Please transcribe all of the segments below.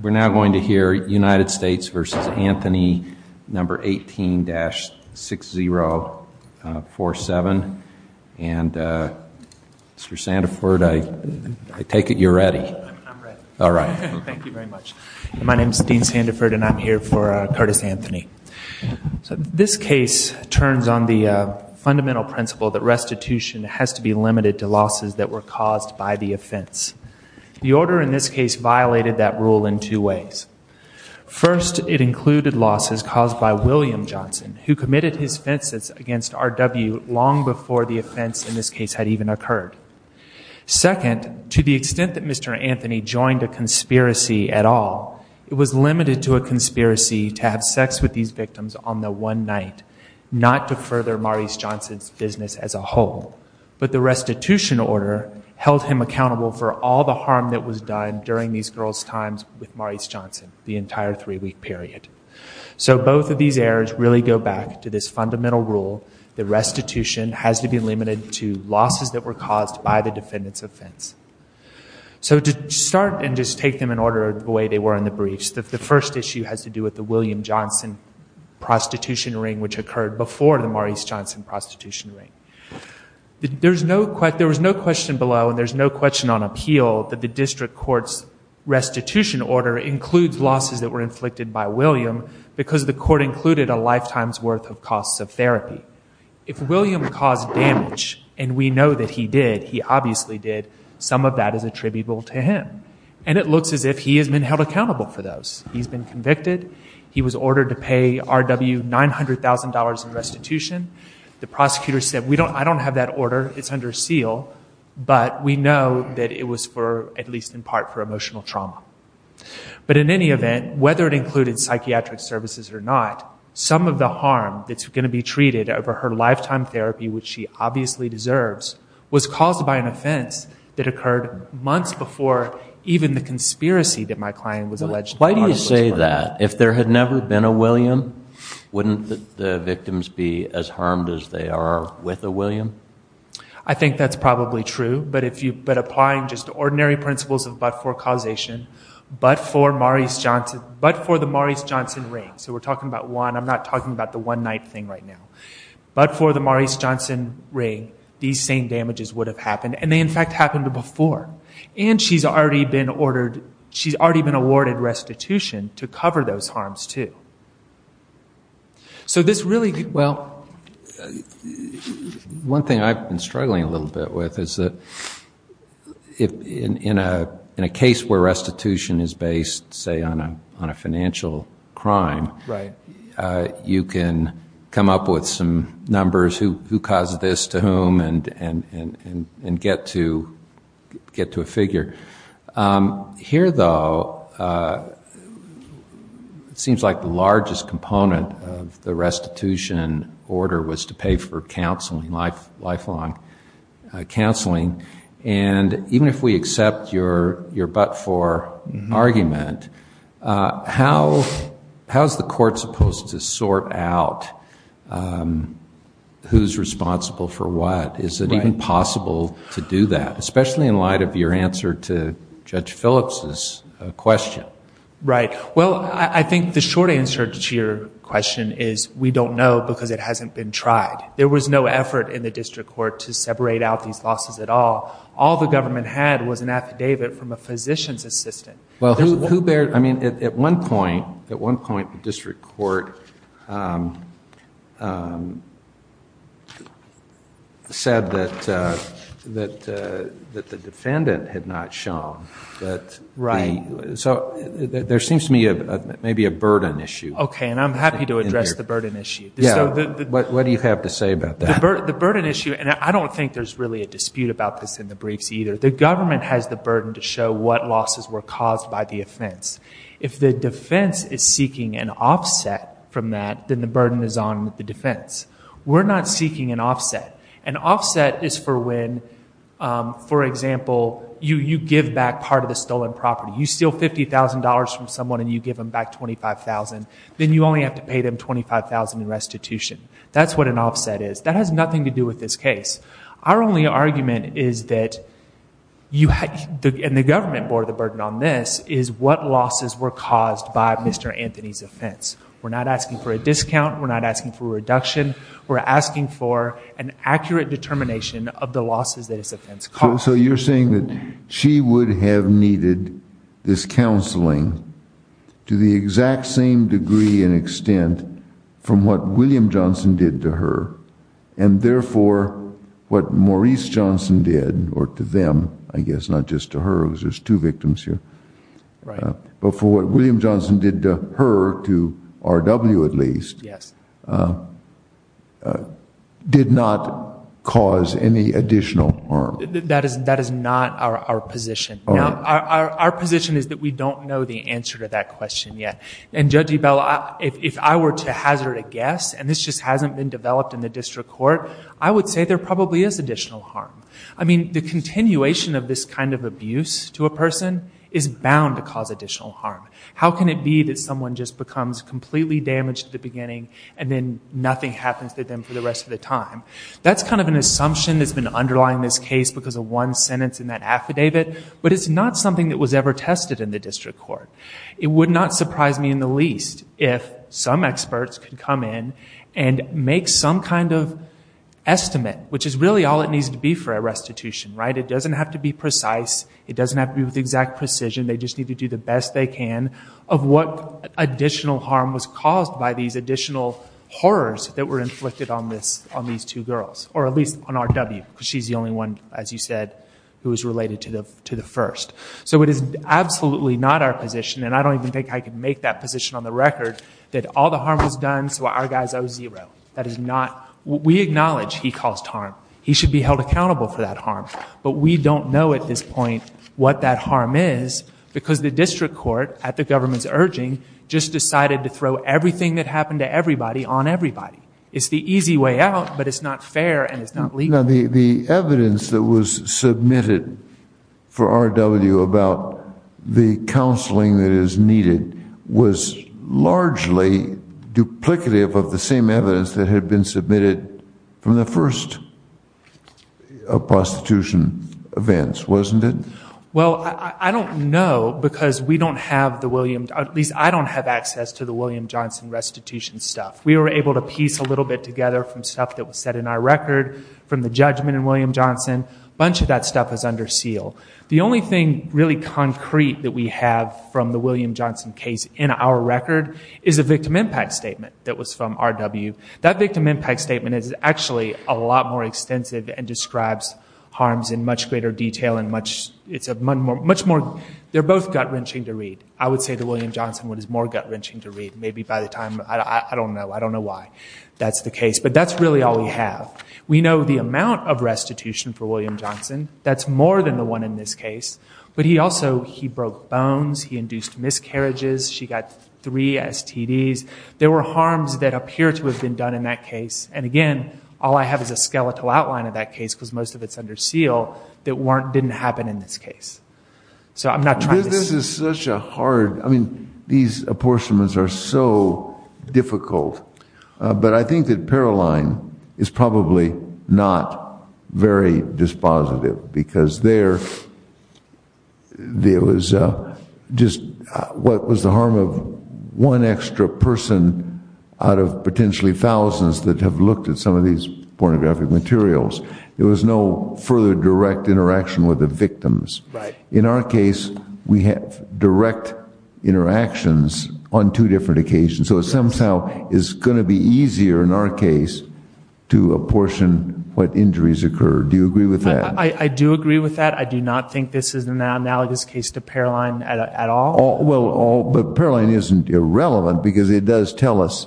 We're now going to hear United States v. Anthony No. 18-6047, and Mr. Sandiford, I take it you're ready. I'm ready. All right. Thank you very much. My name is Dean Sandiford, and I'm here for Curtis Anthony. This case turns on the fundamental principle that restitution has to be limited to losses that were caused by the offense. The order in this case violated that rule in two ways. First, it included losses caused by William Johnson, who committed his offenses against RW long before the offense in this case had even occurred. Second, to the extent that Mr. Anthony joined a conspiracy at all, it was limited to a conspiracy to have sex with these victims on the one night, not to further Maurice Johnson's business as a whole. But the restitution order held him accountable for all the harm that was done during these girls' times with Maurice Johnson, the entire three-week period. So both of these errors really go back to this fundamental rule that restitution has to be limited to losses that were caused by the defendant's offense. So to start and just take them in order the way they were in the briefs, the first issue has to do with the William Johnson prostitution ring, which occurred before the Maurice Johnson prostitution ring. There was no question below, and there's no question on appeal, that the district court's restitution order includes losses that were inflicted by William because the court included a lifetime's worth of costs of therapy. If William caused damage, and we know that he did, he obviously did, some of that is attributable to him. And it looks as if he has been held accountable for those. He's been convicted. He was ordered to pay R.W. $900,000 in restitution. The prosecutor said, I don't have that order. It's under seal. But we know that it was for, at least in part, for emotional trauma. But in any event, whether it included psychiatric services or not, some of the harm that's going to be treated over her lifetime therapy, which she obviously deserves, was caused by an offense that occurred months before even the conspiracy that my client was alleged to be part of was that. If there had never been a William, wouldn't the victims be as harmed as they are with a William? I think that's probably true. But applying just ordinary principles of but-for causation, but for the Maurice Johnson ring, so we're talking about one. I'm not talking about the one-night thing right now. But for the Maurice Johnson ring, these same damages would have happened. And they, in fact, happened before. And she's already been awarded restitution to cover those harms, too. So this really... Well, one thing I've been struggling a little bit with is that in a case where restitution is based, say, on a financial crime, you can come up with some numbers, who caused this to whom, and get to a figure. Here though, it seems like the largest component of the restitution order was to pay for counseling, lifelong counseling. And even if we accept your but-for argument, how is the court supposed to sort out who's responsible for what? Is it even possible to do that, especially in light of your answer to Judge Phillips's question? Right. Well, I think the short answer to your question is, we don't know because it hasn't been tried. There was no effort in the district court to separate out these losses at all. All the government had was an affidavit from a physician's assistant. Well, who bears... I mean, at one point, the district court said that the defendant had not shown that the... So there seems to me maybe a burden issue in there. Okay, and I'm happy to address the burden issue. Yeah. What do you have to say about that? The burden issue... And I don't think there's really a dispute about this in the briefs either. The government has the burden to show what losses were caused by the offense. If the defense is seeking an offset from that, then the burden is on the defense. We're not seeking an offset. An offset is for when, for example, you give back part of the stolen property. You steal $50,000 from someone and you give them back $25,000. Then you only have to pay them $25,000 in restitution. That's what an offset is. That has nothing to do with this case. Our only argument is that, and the government bore the burden on this, is what losses were caused by Mr. Anthony's offense. We're not asking for a discount. We're not asking for a reduction. We're asking for an accurate determination of the losses that his offense caused. So you're saying that she would have needed this counseling to the exact same degree and what Maurice Johnson did, or to them, I guess, not just to her, there's two victims here, but for what William Johnson did to her, to R.W. at least, did not cause any additional harm? That is not our position. Our position is that we don't know the answer to that question yet. Judge Ebell, if I were to hazard a guess, and this just hasn't been developed in the district court, there probably is additional harm. The continuation of this kind of abuse to a person is bound to cause additional harm. How can it be that someone just becomes completely damaged at the beginning and then nothing happens to them for the rest of the time? That's kind of an assumption that's been underlying this case because of one sentence in that affidavit, but it's not something that was ever tested in the district court. It would not surprise me in the least if some experts could come in and make some kind of all it needs to be for a restitution. It doesn't have to be precise. It doesn't have to be with exact precision. They just need to do the best they can of what additional harm was caused by these additional horrors that were inflicted on these two girls, or at least on R.W., because she's the only one, as you said, who was related to the first. So it is absolutely not our position, and I don't even think I can make that position on the record, that all the harm was done so our guy is O-0. That is not, we acknowledge he caused harm. He should be held accountable for that harm, but we don't know at this point what that harm is because the district court, at the government's urging, just decided to throw everything that happened to everybody on everybody. It's the easy way out, but it's not fair and it's not legal. The evidence that was submitted for R.W. about the counseling that is needed was largely duplicative of the same evidence that had been submitted from the first prostitution events, wasn't it? Well, I don't know because we don't have the William, at least I don't have access to the William Johnson restitution stuff. We were able to piece a little bit together from stuff that was set in our record from the judgment in William Johnson. Bunch of that stuff is under seal. The only thing really concrete that we have from the William Johnson case in our record is a victim impact statement that was from R.W. That victim impact statement is actually a lot more extensive and describes harms in much greater detail and much, it's a much more, they're both gut-wrenching to read. I would say the William Johnson one is more gut-wrenching to read. Maybe by the time, I don't know, I don't know why that's the case, but that's really all we have. We know the amount of restitution for William Johnson. That's more than the one in this case, but he also, he broke bones, he induced miscarriages. She got three STDs. There were harms that appear to have been done in that case, and again, all I have is a skeletal outline of that case because most of it's under seal that didn't happen in this case. So I'm not trying to- This is such a hard, I mean, these apportionments are so difficult, but I think that Paroline is probably not very dispositive because there was just, what was the harm of one extra person out of potentially thousands that have looked at some of these pornographic materials? There was no further direct interaction with the victims. In our case, we have direct interactions on two different occasions. So it somehow is going to be easier in our case to apportion what injuries occurred. Do you agree with that? I do agree with that. I do not think this is an analogous case to Paroline at all. Well, but Paroline isn't irrelevant because it does tell us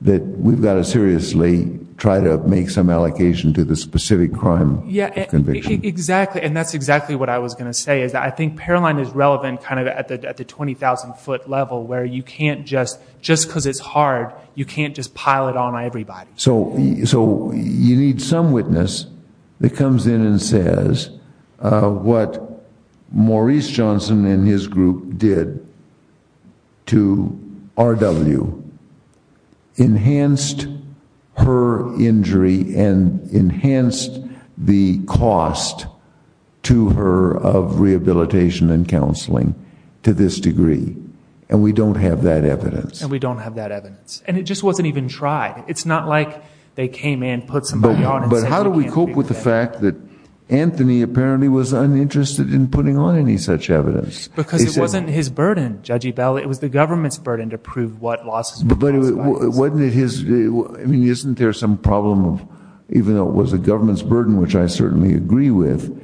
that we've got to seriously try to make some allocation to the specific crime conviction. Yeah, exactly. And that's exactly what I was going to say is that I think Paroline is relevant kind of at the 20,000 foot level where you can't just, just because it's hard, you can't just pile it on everybody. So you need some witness that comes in and says what Maurice Johnson and his group did to RW enhanced her injury and enhanced the cost to her of rehabilitation and counseling to this degree. And we don't have that evidence. And we don't have that evidence. And it just wasn't even tried. It's not like they came in, put somebody on and said you can't do that. But how do we cope with the fact that Anthony apparently was uninterested in putting on any such evidence? Because it wasn't his burden, Judge Ebell. It was the government's burden to prove what losses were caused by this. But wasn't it his, I mean, isn't there some problem of, even though it was the government's burden, which I certainly agree with,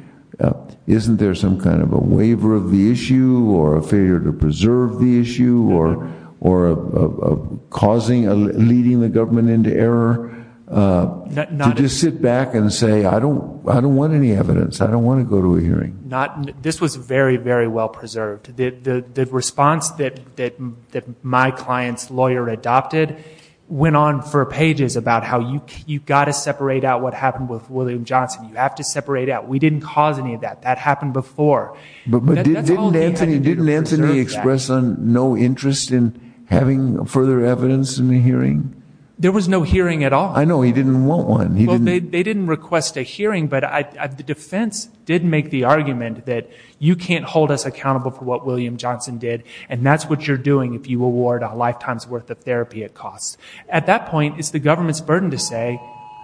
isn't there some kind of a waiver of the issue or a failure to preserve the issue or a causing, leading the government into error to just sit back and say, I don't want any evidence. I don't want to go to a hearing. This was very, very well preserved. The response that my client's lawyer adopted went on for pages about how you've got to separate out what happened with William Johnson. You have to separate out. We didn't cause any of that. That happened before. But didn't Anthony express no interest in having further evidence in the hearing? There was no hearing at all. I know. He didn't want one. They didn't request a hearing, but the defense did make the argument that you can't hold us accountable for what William Johnson did, and that's what you're doing if you award a lifetime's worth of therapy at cost. At that point, it's the government's burden to say,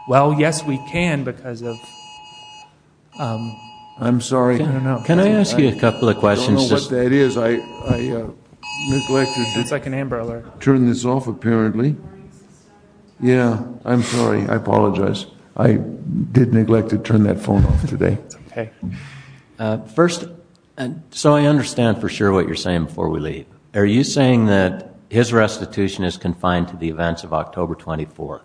well, yes, we can because of... I'm sorry. Can I ask you a couple of questions? I don't know what that is. I neglected to turn this off, apparently. It's like an Amber Alert. Yeah. I'm sorry. I apologize. I did neglect to turn that phone off today. Okay. First, so I understand for sure what you're saying before we leave. Are you saying that his restitution is confined to the events of October 24th?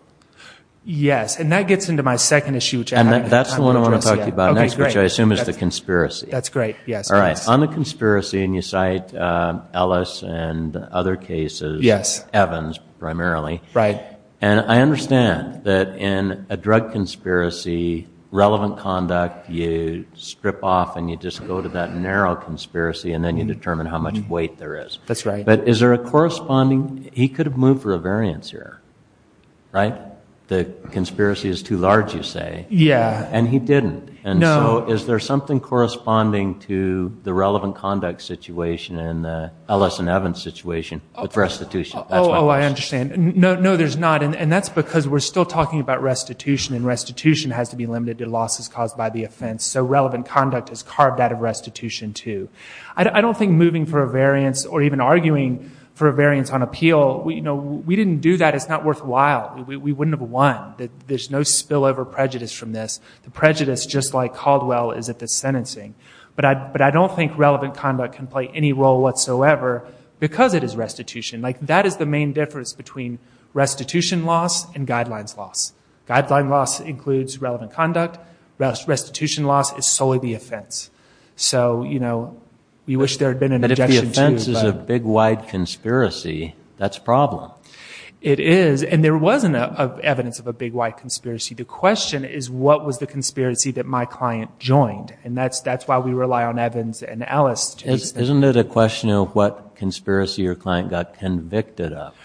Yes. And that gets into my second issue, which I haven't had time to address yet. And that's the one I want to talk to you about next, which I assume is the conspiracy. That's great. Yes. All right. On the conspiracy, and you cite Ellis and other cases, Evans primarily, and I understand that in a drug conspiracy, relevant conduct, you strip off and you just go to that narrow conspiracy and then you determine how much weight there is. That's right. But is there a corresponding... He could have moved for a variance here, right? The conspiracy is too large, you say. Yeah. And he didn't. And so is there something corresponding to the relevant conduct situation and the Ellis and Evans situation with restitution? That's my question. Oh, I understand. No, there's not. And that's because we're still talking about restitution and restitution has to be limited to losses caused by the offense. So relevant conduct is carved out of restitution too. I don't think moving for a variance or even arguing for a variance on appeal, we didn't do that. It's not worthwhile. We wouldn't have won. There's no spillover prejudice from this. The prejudice, just like Caldwell, is at the sentencing. But I don't think relevant conduct can play any role whatsoever because it is restitution. That is the main difference between restitution loss and guidelines loss. Guidelines loss includes relevant conduct. Restitution loss is solely the offense. So we wish there had been an objection too. But if the offense is a big wide conspiracy, that's a problem. It is. And there wasn't evidence of a big wide conspiracy. The question is, what was the conspiracy that my client joined? And that's why we rely on Evans and Ellis to... Isn't it a question of what conspiracy your client got convicted of?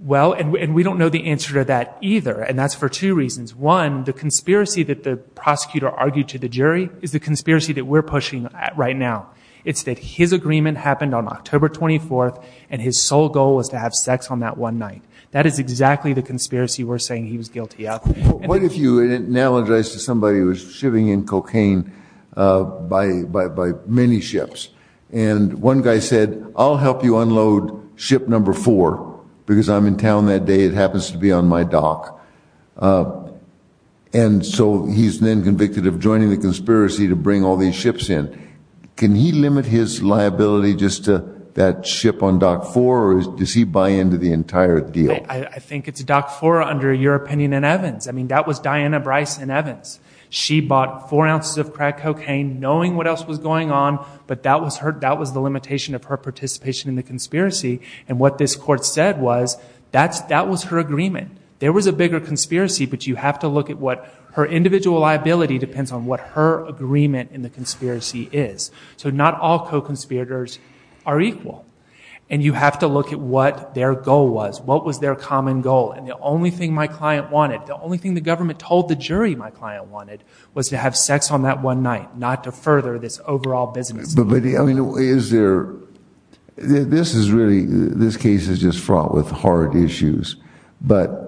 Well, and we don't know the answer to that either. And that's for two reasons. One, the conspiracy that the prosecutor argued to the jury is the conspiracy that we're pushing at right now. It's that his agreement happened on October 24th and his sole goal was to have sex on that one night. That is exactly the conspiracy we're saying he was guilty of. What if you analogized to somebody who was shipping in cocaine by many ships and one guy said, I'll help you unload ship number four because I'm in town that day. It happens to be on my dock. And so he's then convicted of joining the conspiracy to bring all these ships in. Can he limit his liability just to that ship on dock four or does he buy into the entire deal? I think it's dock four under your opinion and Evans. I mean, that was Diana Bryce and Evans. She bought four ounces of crack cocaine knowing what else was going on, but that was the limitation of her participation in the conspiracy. And what this court said was that was her agreement. There was a bigger conspiracy, but you have to look at what her individual liability depends on what her agreement in the conspiracy is. So not all co-conspirators are equal. And you have to look at what their goal was. What was their common goal? And the only thing my client wanted, the only thing the government told the jury my client wanted was to have sex on that one night, not to further this overall business. But is there this is really this case is just fraught with hard issues. But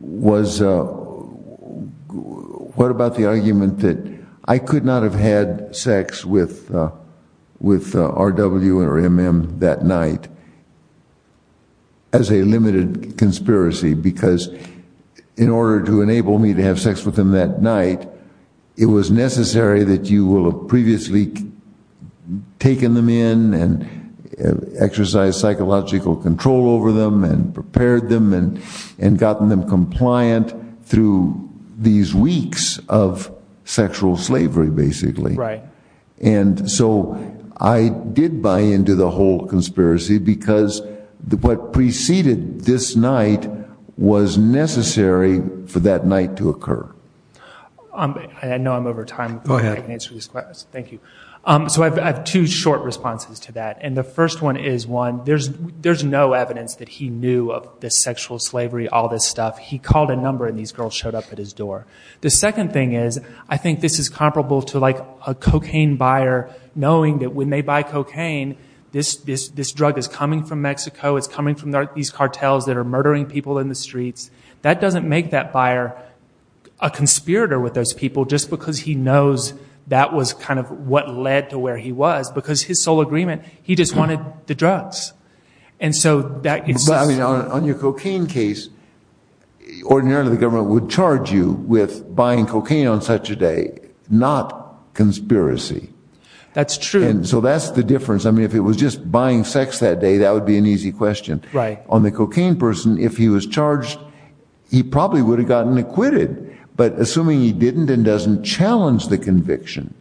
was what about the argument that I could not have had sex with with R.W. or M.M. that night as a limited conspiracy? Because in order to enable me to have sex with him that night, it was necessary that you will have previously taken them in and exercise psychological control over them and prepared them and and gotten them compliant through these weeks of sexual slavery, basically. Right. And so I did buy into the whole conspiracy because what preceded this night was necessary for that night to occur. I know I'm over time. Thank you. So I have two short responses to that. And the first one is one, there's there's no evidence that he knew of the sexual slavery, all this stuff. He called a number and these girls showed up at his door. The second thing is, I think this is comparable to like a cocaine buyer knowing that when they buy cocaine, this this this drug is coming from Mexico. It's coming from these cartels that are murdering people in the streets. That doesn't make that buyer a conspirator with those people just because he knows that was kind of what led to where he was, because his sole agreement, he just wanted the drugs. And so that is on your cocaine case. Ordinarily, the government would charge you with buying cocaine on such a day, not conspiracy. That's true. And so that's the difference. I mean, if it was just buying sex that day, that would be an easy question, right? On the cocaine person, if he was charged, he probably would have gotten acquitted. But assuming he didn't and doesn't challenge the conviction,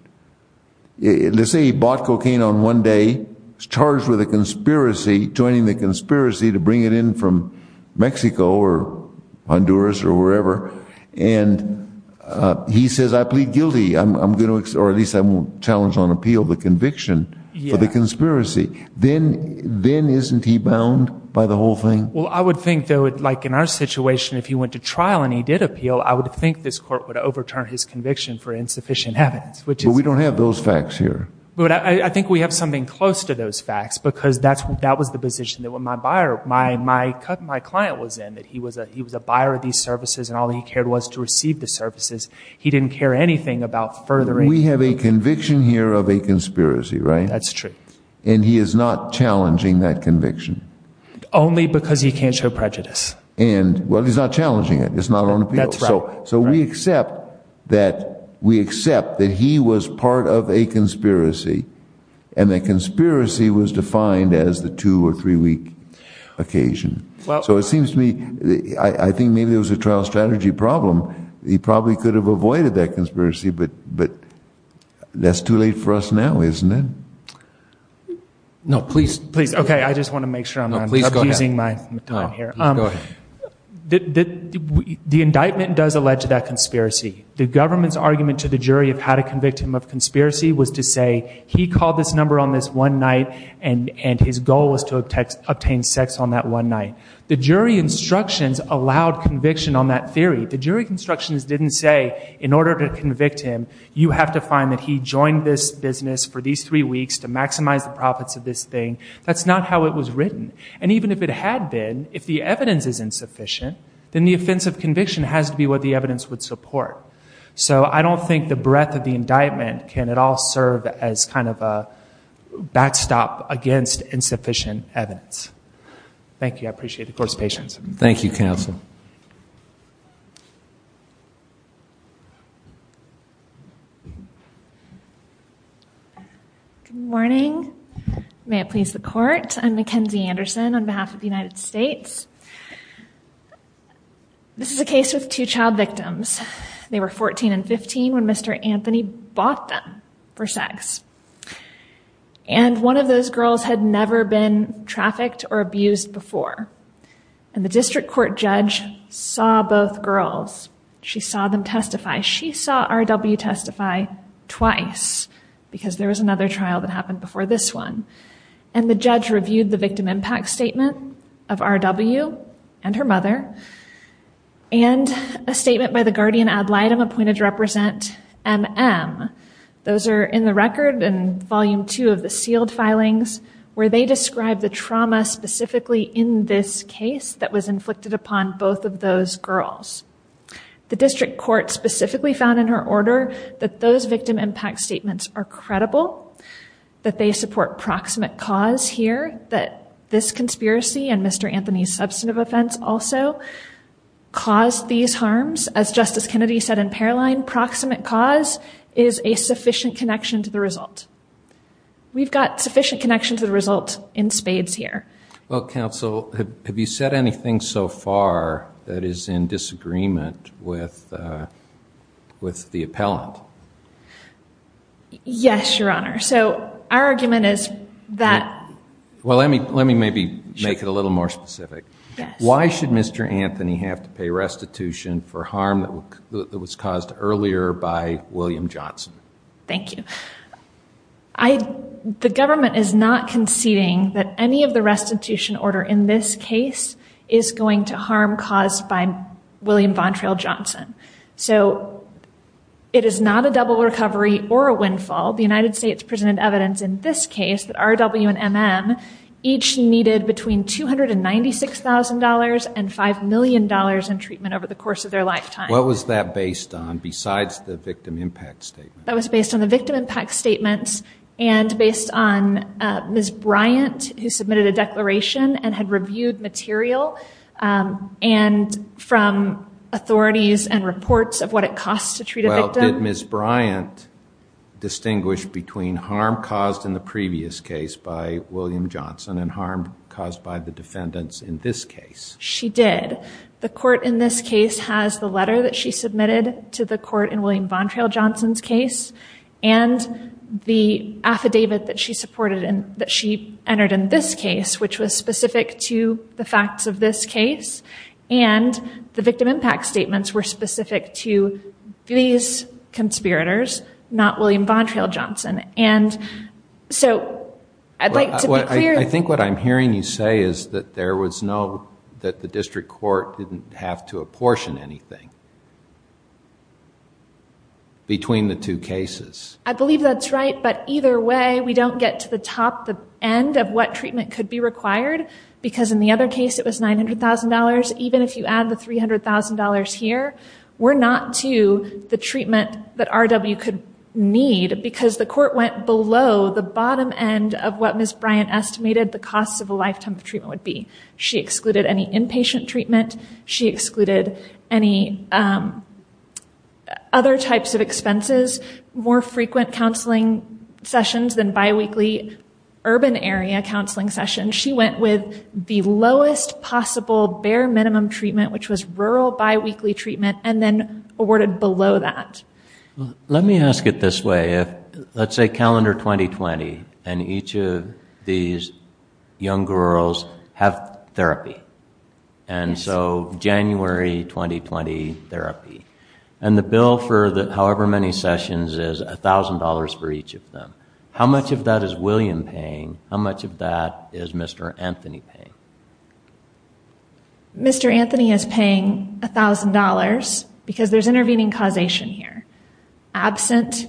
let's say he bought cocaine on one day, charged with a conspiracy, joining the conspiracy to bring it in from Mexico or Honduras or wherever. And he says, I plead guilty. I'm going to or at least I won't challenge on appeal the conviction for the conspiracy. Then then isn't he bound by the whole thing? Well, I would think, though, like in our situation, if he went to trial and he did appeal, I would think this court would overturn his conviction for insufficient evidence, which we don't have those facts here. But I think we have something close to those facts, because that's that was the position that when my buyer, my my my client was in, that he was he was a buyer of these services and all he cared was to receive the services. He didn't care anything about furthering. We have a conviction here of a conspiracy, right? That's true. And he is not challenging that conviction. Only because he can't show prejudice. And well, he's not challenging it. It's not on appeal. So so we accept that we accept that he was part of a conspiracy and that conspiracy was defined as the two or three week occasion. So it seems to me, I think maybe it was a trial strategy problem. He probably could have avoided that conspiracy. But but that's too late for us now, isn't it? No, please, please. OK, I just want to make sure I'm not using my time here. The indictment does allege that conspiracy, the government's argument to the jury of how to convict him of conspiracy was to say he called this number on this one night and his goal was to obtain sex on that one night. The jury instructions allowed conviction on that theory. The jury instructions didn't say in order to convict him, you have to find that he joined this business for these three weeks to maximize the profits of this thing. That's not how it was written. And even if it had been, if the evidence is insufficient, then the offense of conviction has to be what the evidence would support. So I don't think the breadth of the indictment can at all serve as kind of a backstop against insufficient evidence. Thank you. I appreciate the court's patience. Thank you, counsel. Good morning. May it please the court. I'm Mackenzie Anderson on behalf of the United States. This is a case with two child victims. They were 14 and 15 when Mr. Anthony bought them for sex. And one of those girls had never been trafficked or abused before. And the district court judge saw both girls. She saw them testify. She saw R.W. testify twice because there was another trial that happened before this one. And the judge reviewed the victim impact statement of R.W. and her mother. And a statement by the guardian ad litem appointed to represent M.M. Those are in the record and volume two of the sealed filings where they describe the trauma specifically in this case that was inflicted upon both of those girls. The district court specifically found in her order that those victim impact statements are credible, that they support proximate cause here, that this conspiracy and Mr. Anthony's substantive offense also caused these harms. As Justice Kennedy said in Paroline, proximate cause is a sufficient connection to the result. We've got sufficient connection to the result in spades here. Well, counsel, have you said anything so far that is in disagreement with with the appellant? Yes, your honor. So our argument is that. Well, let me let me maybe make it a little more specific. Why should Mr. Anthony have to pay restitution for harm that was caused earlier by William Johnson? Thank you. I the government is not conceding that any of the restitution order in this case is going to harm caused by William Von Trail Johnson. So it is not a double recovery or a windfall. The United States presented evidence in this case that R.W. and M.M. each needed between two hundred and ninety six thousand dollars and five million dollars in treatment over the course of their lifetime. What was that based on besides the victim impact statement that was based on the victim impact statements and based on Ms. Bryant, who submitted a declaration and had reviewed material and from authorities and reports of what it costs to treat a victim. Ms. Bryant distinguished between harm caused in the previous case by William Johnson and harm caused by the defendants in this case. She did. The court in this case has the letter that she submitted to the court in William Von Trail Johnson's case and the affidavit that she supported and that she entered in this case, which was specific to the facts of this case. And the victim impact statements were specific to these conspirators, not William Von Trail Johnson. And so I'd like to be clear. I think what I'm hearing you say is that there was no that the district court didn't have to apportion anything. Between the two cases, I believe that's right, but either way, we don't get to the top, the end of what treatment could be required, because in the other case, it was nine hundred thousand dollars. Even if you add the three hundred thousand dollars here, we're not to the treatment that RW could need because the court went below the bottom end of what Ms. Bryant estimated the cost of a lifetime of treatment would be. She excluded any inpatient treatment. She excluded any other types of expenses, more frequent counseling sessions than biweekly urban area counseling sessions. She went with the lowest possible bare minimum treatment, which was rural biweekly treatment, and then awarded below that. Let me ask it this way. Let's say calendar 2020 and each of these young girls have therapy. And so January 2020 therapy and the bill for the however many sessions is a thousand dollars for each of them. How much of that is William paying? How much of that is Mr. Anthony paying? Mr. Anthony is paying a thousand dollars because there's intervening causation here absent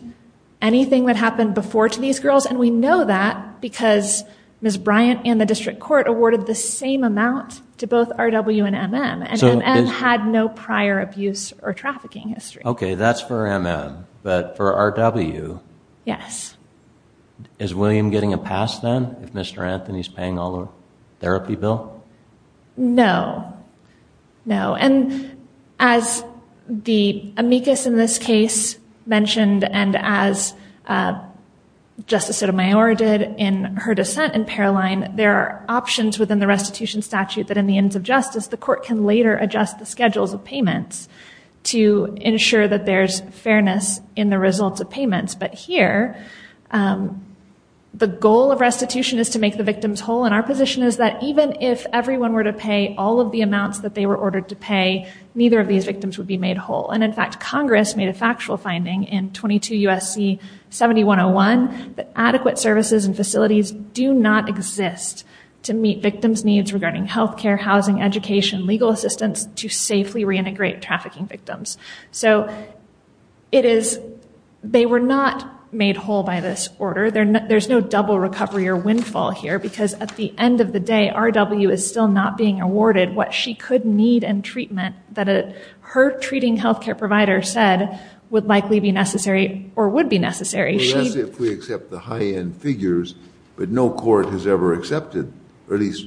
anything that happened before to these girls. And we know that because Ms. Bryant and the district court awarded the same amount to both RW and MM. And MM had no prior abuse or trafficking history. OK, that's for MM. But for RW. Yes. Is William getting a pass then if Mr. Anthony bill? No, no. And as the amicus in this case mentioned and as Justice Sotomayor did in her dissent in Paroline, there are options within the restitution statute that in the ends of justice, the court can later adjust the schedules of payments to ensure that there's fairness in the results of payments. But here, the goal of restitution is to make the victims whole. And our position is that even if everyone were to pay all of the amounts that they were ordered to pay, neither of these victims would be made whole. And in fact, Congress made a factual finding in 22 U.S.C. 7101 that adequate services and facilities do not exist to meet victims' needs regarding health care, housing, education, legal assistance to safely reintegrate trafficking victims. So it is they were not made whole by this order. There's no double recovery or windfall here because at the end of the day, R.W. is still not being awarded what she could need and treatment that her treating health care provider said would likely be necessary or would be necessary. Unless if we accept the high end figures, but no court has ever accepted, or at least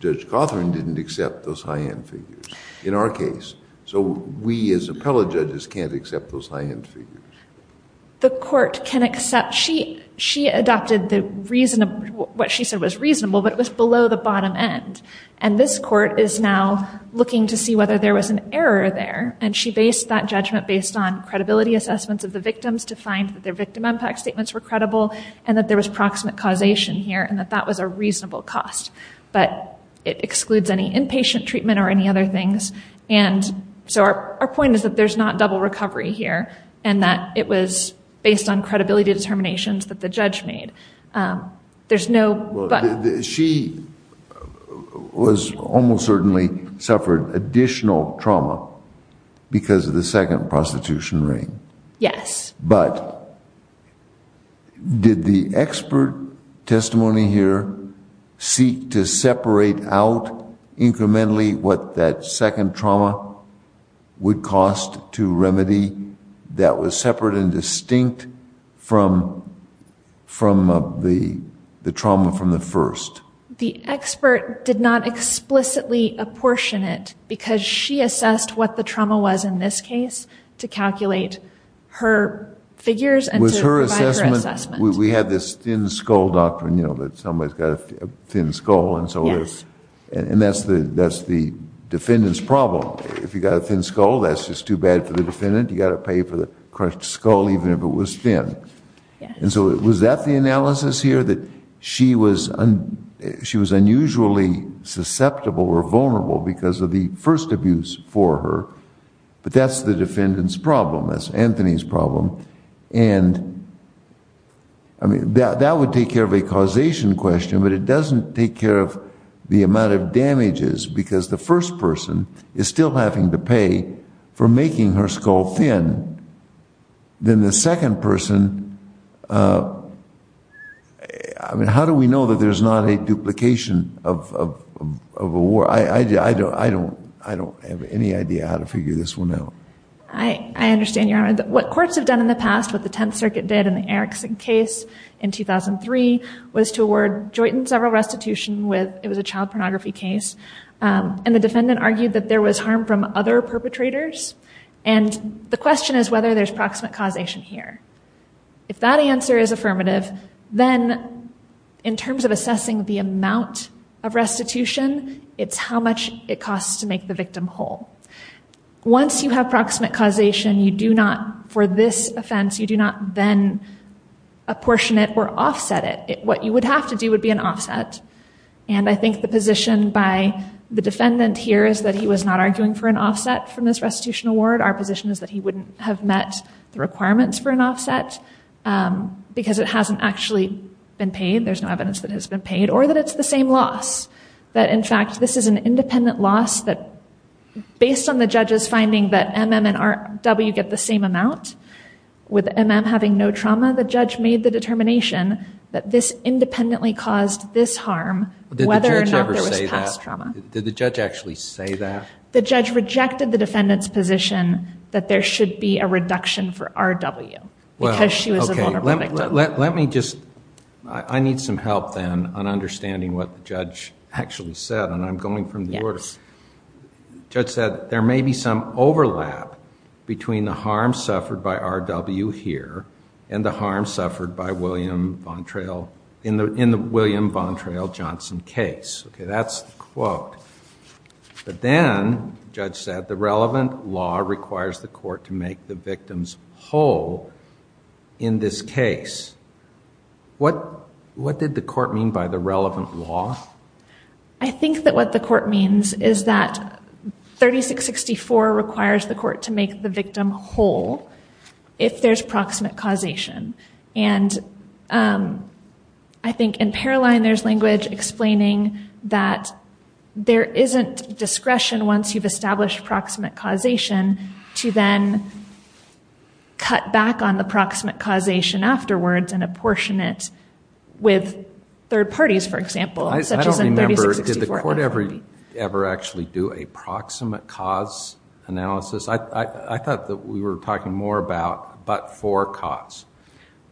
Judge Cawthorne didn't accept those high end figures in our case. So we as appellate judges can't accept those high end figures. The court can accept she she adopted the reason what she said was reasonable, but it was below the bottom end. And this court is now looking to see whether there was an error there. And she based that judgment based on credibility assessments of the victims to find that their victim impact statements were credible and that there was proximate causation here and that that was a reasonable cost. But it excludes any inpatient treatment or any other things. And so our point is that there's not double recovery here and that it was based on credibility determinations that the judge made. There's no but. She was almost certainly suffered additional trauma because of the second prostitution ring. Yes. But. Did the expert testimony here seek to separate out incrementally what that second trauma would cost to remedy that was separate and distinct from from the the trauma from the first? The expert did not explicitly apportion it because she assessed what the trauma was in this case to calculate her figures and was her assessment. We had this thin skull doctrine, you know, that somebody's got a thin skull. And so yes, and that's the that's the defendant's problem. If you got a thin skull, that's just too bad for the defendant. You got to pay for the crushed skull, even if it was thin. And so was that the analysis here that she was she was unusually susceptible or vulnerable because of the first abuse for her? But that's the defendant's problem. That's Anthony's problem. And. I mean, that would take care of a causation question, but it doesn't take care of the amount of damages because the first person is still having to pay for making her skull thin. Then the second person. I mean, how do we know that there's not a duplication of of of a war? I don't I don't I don't have any idea how to figure this one out. I understand your honor, what courts have done in the past, what the Tenth Circuit did in the Erickson case in 2003 was to award joint and several restitution with it was a child pornography case. And the defendant argued that there was harm from other perpetrators. And the question is whether there's proximate causation here. If that answer is affirmative, then in terms of assessing the amount of restitution, it's how much it costs to make the victim whole. Once you have proximate causation, you do not for this offense, you do not then apportion it or offset it. What you would have to do would be an offset. And I think the position by the defendant here is that he was not arguing for an offset from this restitution award. Our position is that he wouldn't have met the requirements for an offset because it hasn't actually been paid. There's no evidence that has been paid or that it's the same loss. That, in fact, this is an independent loss that based on the judge's finding that MNRW get the same amount with MN having no trauma. The judge made the determination that this independently caused this harm, whether or not there was past trauma. Did the judge actually say that? The judge rejected the defendant's position that there should be a reduction for R.W. because she was a vulnerable victim. Let me just, I need some help then on understanding what the judge actually said, and I'm going from the order. Judge said there may be some overlap between the harm suffered by R.W. here and the harm suffered by William Vontrail in the William Vontrail-Johnson case. OK, that's the quote. But then, the judge said, the relevant law requires the court to make the victims whole in this case. What did the court mean by the relevant law? I think that what the court means is that 3664 requires the court to make the victim whole. If there's proximate causation, and I think in Paroline, there's language explaining that there isn't discretion once you've established proximate causation to then cut back on the proximate causation afterwards and apportion it with third parties, for example, such as in 3664. I don't remember, did the court ever actually do a proximate cause analysis? I thought that we were talking more about but-for cause.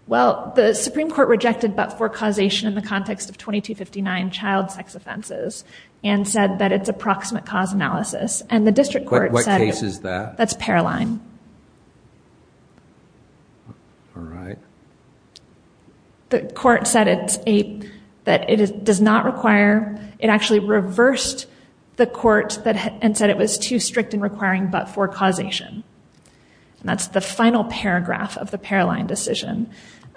Well, the Supreme Court rejected but-for causation in the context of 2259 child sex offenses and said that it's a proximate cause analysis. And the district court said... What case is that? That's Paroline. All right. The court said that it does not require... It actually reversed the court and said it was too strict in requiring but-for causation. And that's the final paragraph of the Paroline decision.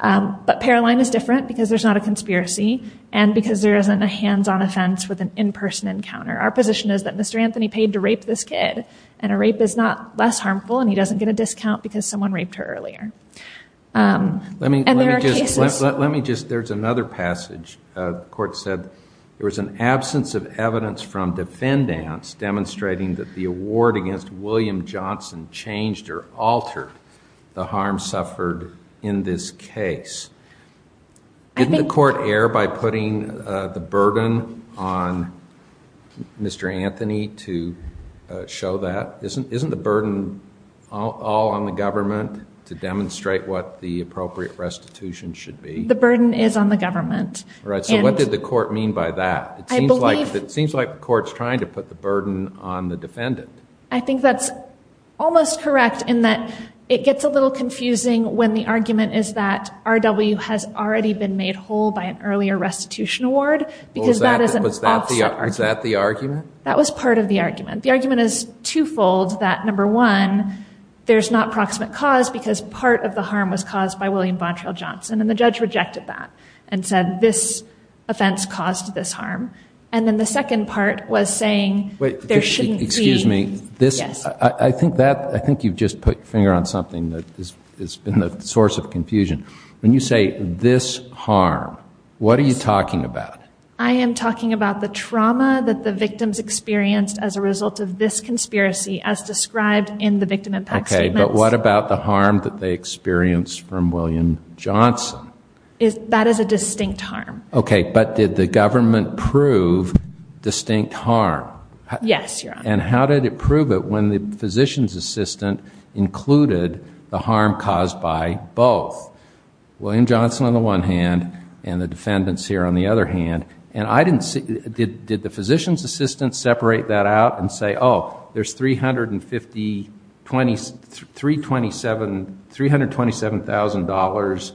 But Paroline is different because there's not a conspiracy and because there isn't a hands-on offense with an in-person encounter. Our position is that Mr. Anthony paid to rape this kid, and a rape is not less harmful and he doesn't get a discount because someone raped her earlier. And there are cases... Let me just... There's another passage. The court said there was an absence of evidence from defendants demonstrating that the award against William Johnson changed or altered the harm suffered in this case. Didn't the court err by putting the burden on Mr. Anthony to show that? Isn't the burden all on the government to demonstrate what the appropriate restitution should be? The burden is on the government. Right. So what did the court mean by that? It seems like the court's trying to put the burden on the defendant. I think that's almost correct in that it gets a little confusing when the argument is that R.W. has already been made whole by an earlier restitution award because that is an offset argument. Was that the argument? That was part of the argument. The argument is twofold, that number one, there's not proximate cause because part of the harm was caused by William Bontrail Johnson, and then the judge rejected that and said this offense caused this harm. And then the second part was saying there shouldn't be... Excuse me, I think you've just put your finger on something that has been the source of confusion. When you say this harm, what are you talking about? I am talking about the trauma that the victims experienced as a result of this conspiracy as described in the victim impact statements. But what about the harm that they experienced from William Johnson? That is a distinct harm. Okay, but did the government prove distinct harm? Yes, Your Honor. And how did it prove it when the physician's assistant included the harm caused by both? William Johnson on the one hand and the defendants here on the other hand. And did the physician's assistant separate that out and say, oh, there's $327,000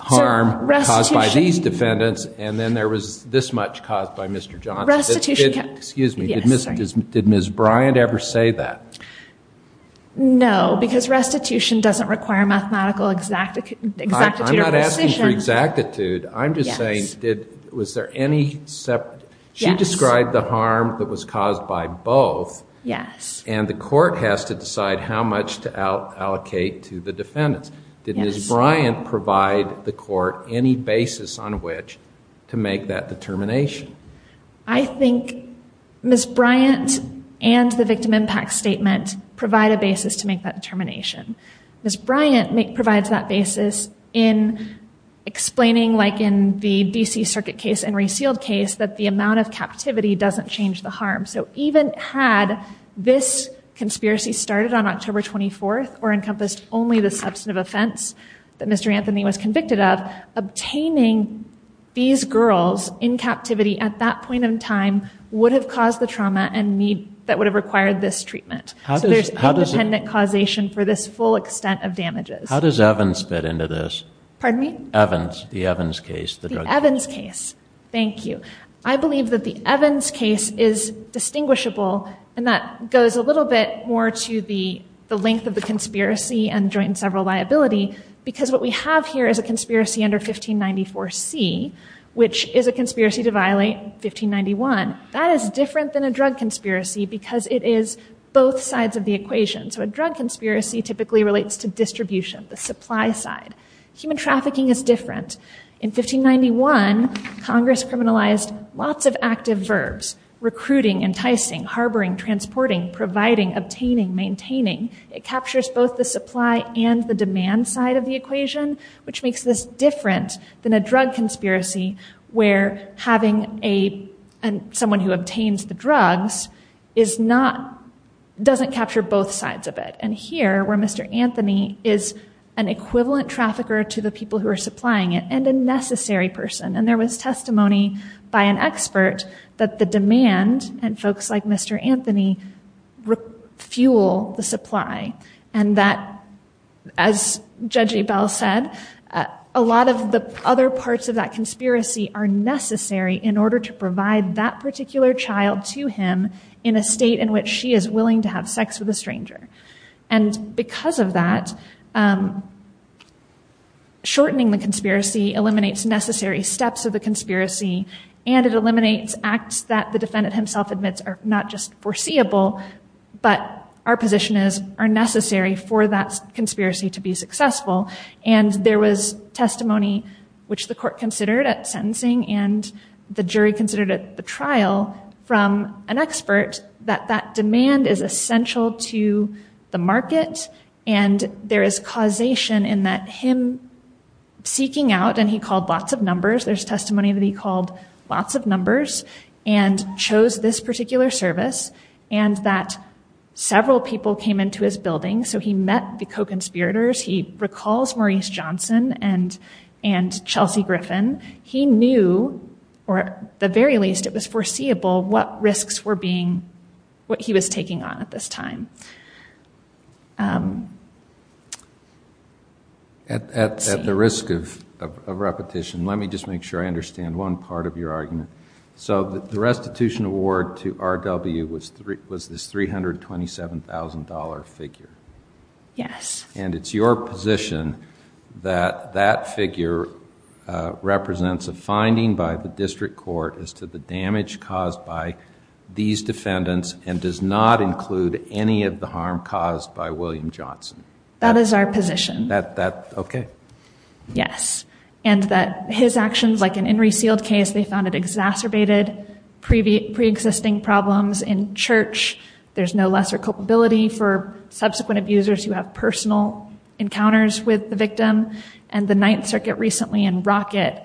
harm caused by these defendants, and then there was this much caused by Mr. Johnson? Restitution... Excuse me, did Ms. Bryant ever say that? No, because restitution doesn't require mathematical exactitude or precision. I'm not asking for exactitude. I'm just saying, was there any separate... Yes. And the court has to decide how much to allocate to the defendants. Did Ms. Bryant provide the court any basis on which to make that determination? I think Ms. Bryant and the victim impact statement provide a basis to make that determination. Ms. Bryant provides that basis in explaining, like in the D.C. Circuit case and Resealed case, that the amount of captivity doesn't change the harm. So even had this conspiracy started on October 24th or encompassed only the substantive offense that Mr. Anthony was convicted of, obtaining these girls in captivity at that point in time would have caused the trauma and need that would have required this treatment. So there's independent causation for this full extent of damages. How does Evans fit into this? Pardon me? Evans, the Evans case, the drug... The Evans case. Thank you. I believe that the Evans case is distinguishable, and that goes a little bit more to the length of the conspiracy and joint and several liability, because what we have here is a conspiracy under 1594C, which is a conspiracy to violate 1591. That is different than a drug conspiracy because it is both sides of the equation. So a drug conspiracy typically relates to distribution, the supply side. Human trafficking is different. In 1591, Congress criminalized lots of active verbs, recruiting, enticing, harboring, transporting, providing, obtaining, maintaining. It captures both the supply and the demand side of the equation, which makes this different than a drug conspiracy where having someone who obtains the drugs doesn't capture both sides of it. And here, where Mr. Anthony is an equivalent trafficker to the people who are supplying it, and a necessary person. And there was testimony by an expert that the demand, and folks like Mr. Anthony, fuel the supply. And that, as Judge Ebell said, a lot of the other parts of that conspiracy are necessary in order to provide that particular child to him in a state in which she is willing to have sex with a stranger. And because of that, shortening the conspiracy eliminates necessary steps of the conspiracy, and it eliminates acts that the defendant himself admits are not just foreseeable, but are necessary for that conspiracy to be successful. And there was testimony, which the court considered at sentencing and the jury considered at the trial, from an expert, that that demand is essential to the market, and there is causation in that him seeking out, and he called lots of numbers, there's testimony that he called lots of numbers, and chose this particular service, and that several people came into his building, so he met the co-conspirators. He recalls Maurice Johnson and Chelsea Griffin. He knew, or at the very least it was foreseeable, what risks were being, what he was taking on at this time. At the risk of repetition, let me just make sure I understand one part of your argument. So the restitution award to RW was this $327,000 figure. Yes. And it's your position that that figure represents a finding by the district court as to the damage caused by these defendants, and does not include any of the harm caused by William Johnson. That is our position. That, that, okay. Yes. And that his actions, like in Henry Seald's case, they found it exacerbated pre-existing problems in church. There's no lesser culpability for subsequent abusers who have personal encounters with the victim. And the Ninth Circuit recently, in Rocket,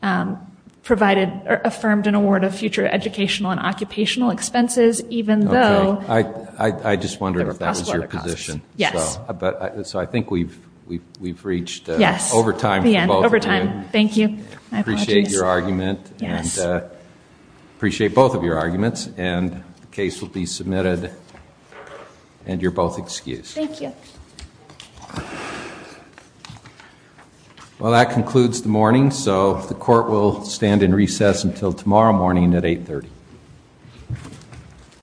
provided, or affirmed an award of future educational and occupational expenses, even though there were possible other costs. I just wondered if that was your position. Yes. But, so I think we've, we've reached over time for both of you. Thank you. I appreciate your argument, and appreciate both of your arguments, and the case will be submitted, and you're both excused. Thank you. Well, that concludes the morning. So, the court will stand in recess until tomorrow morning at 830.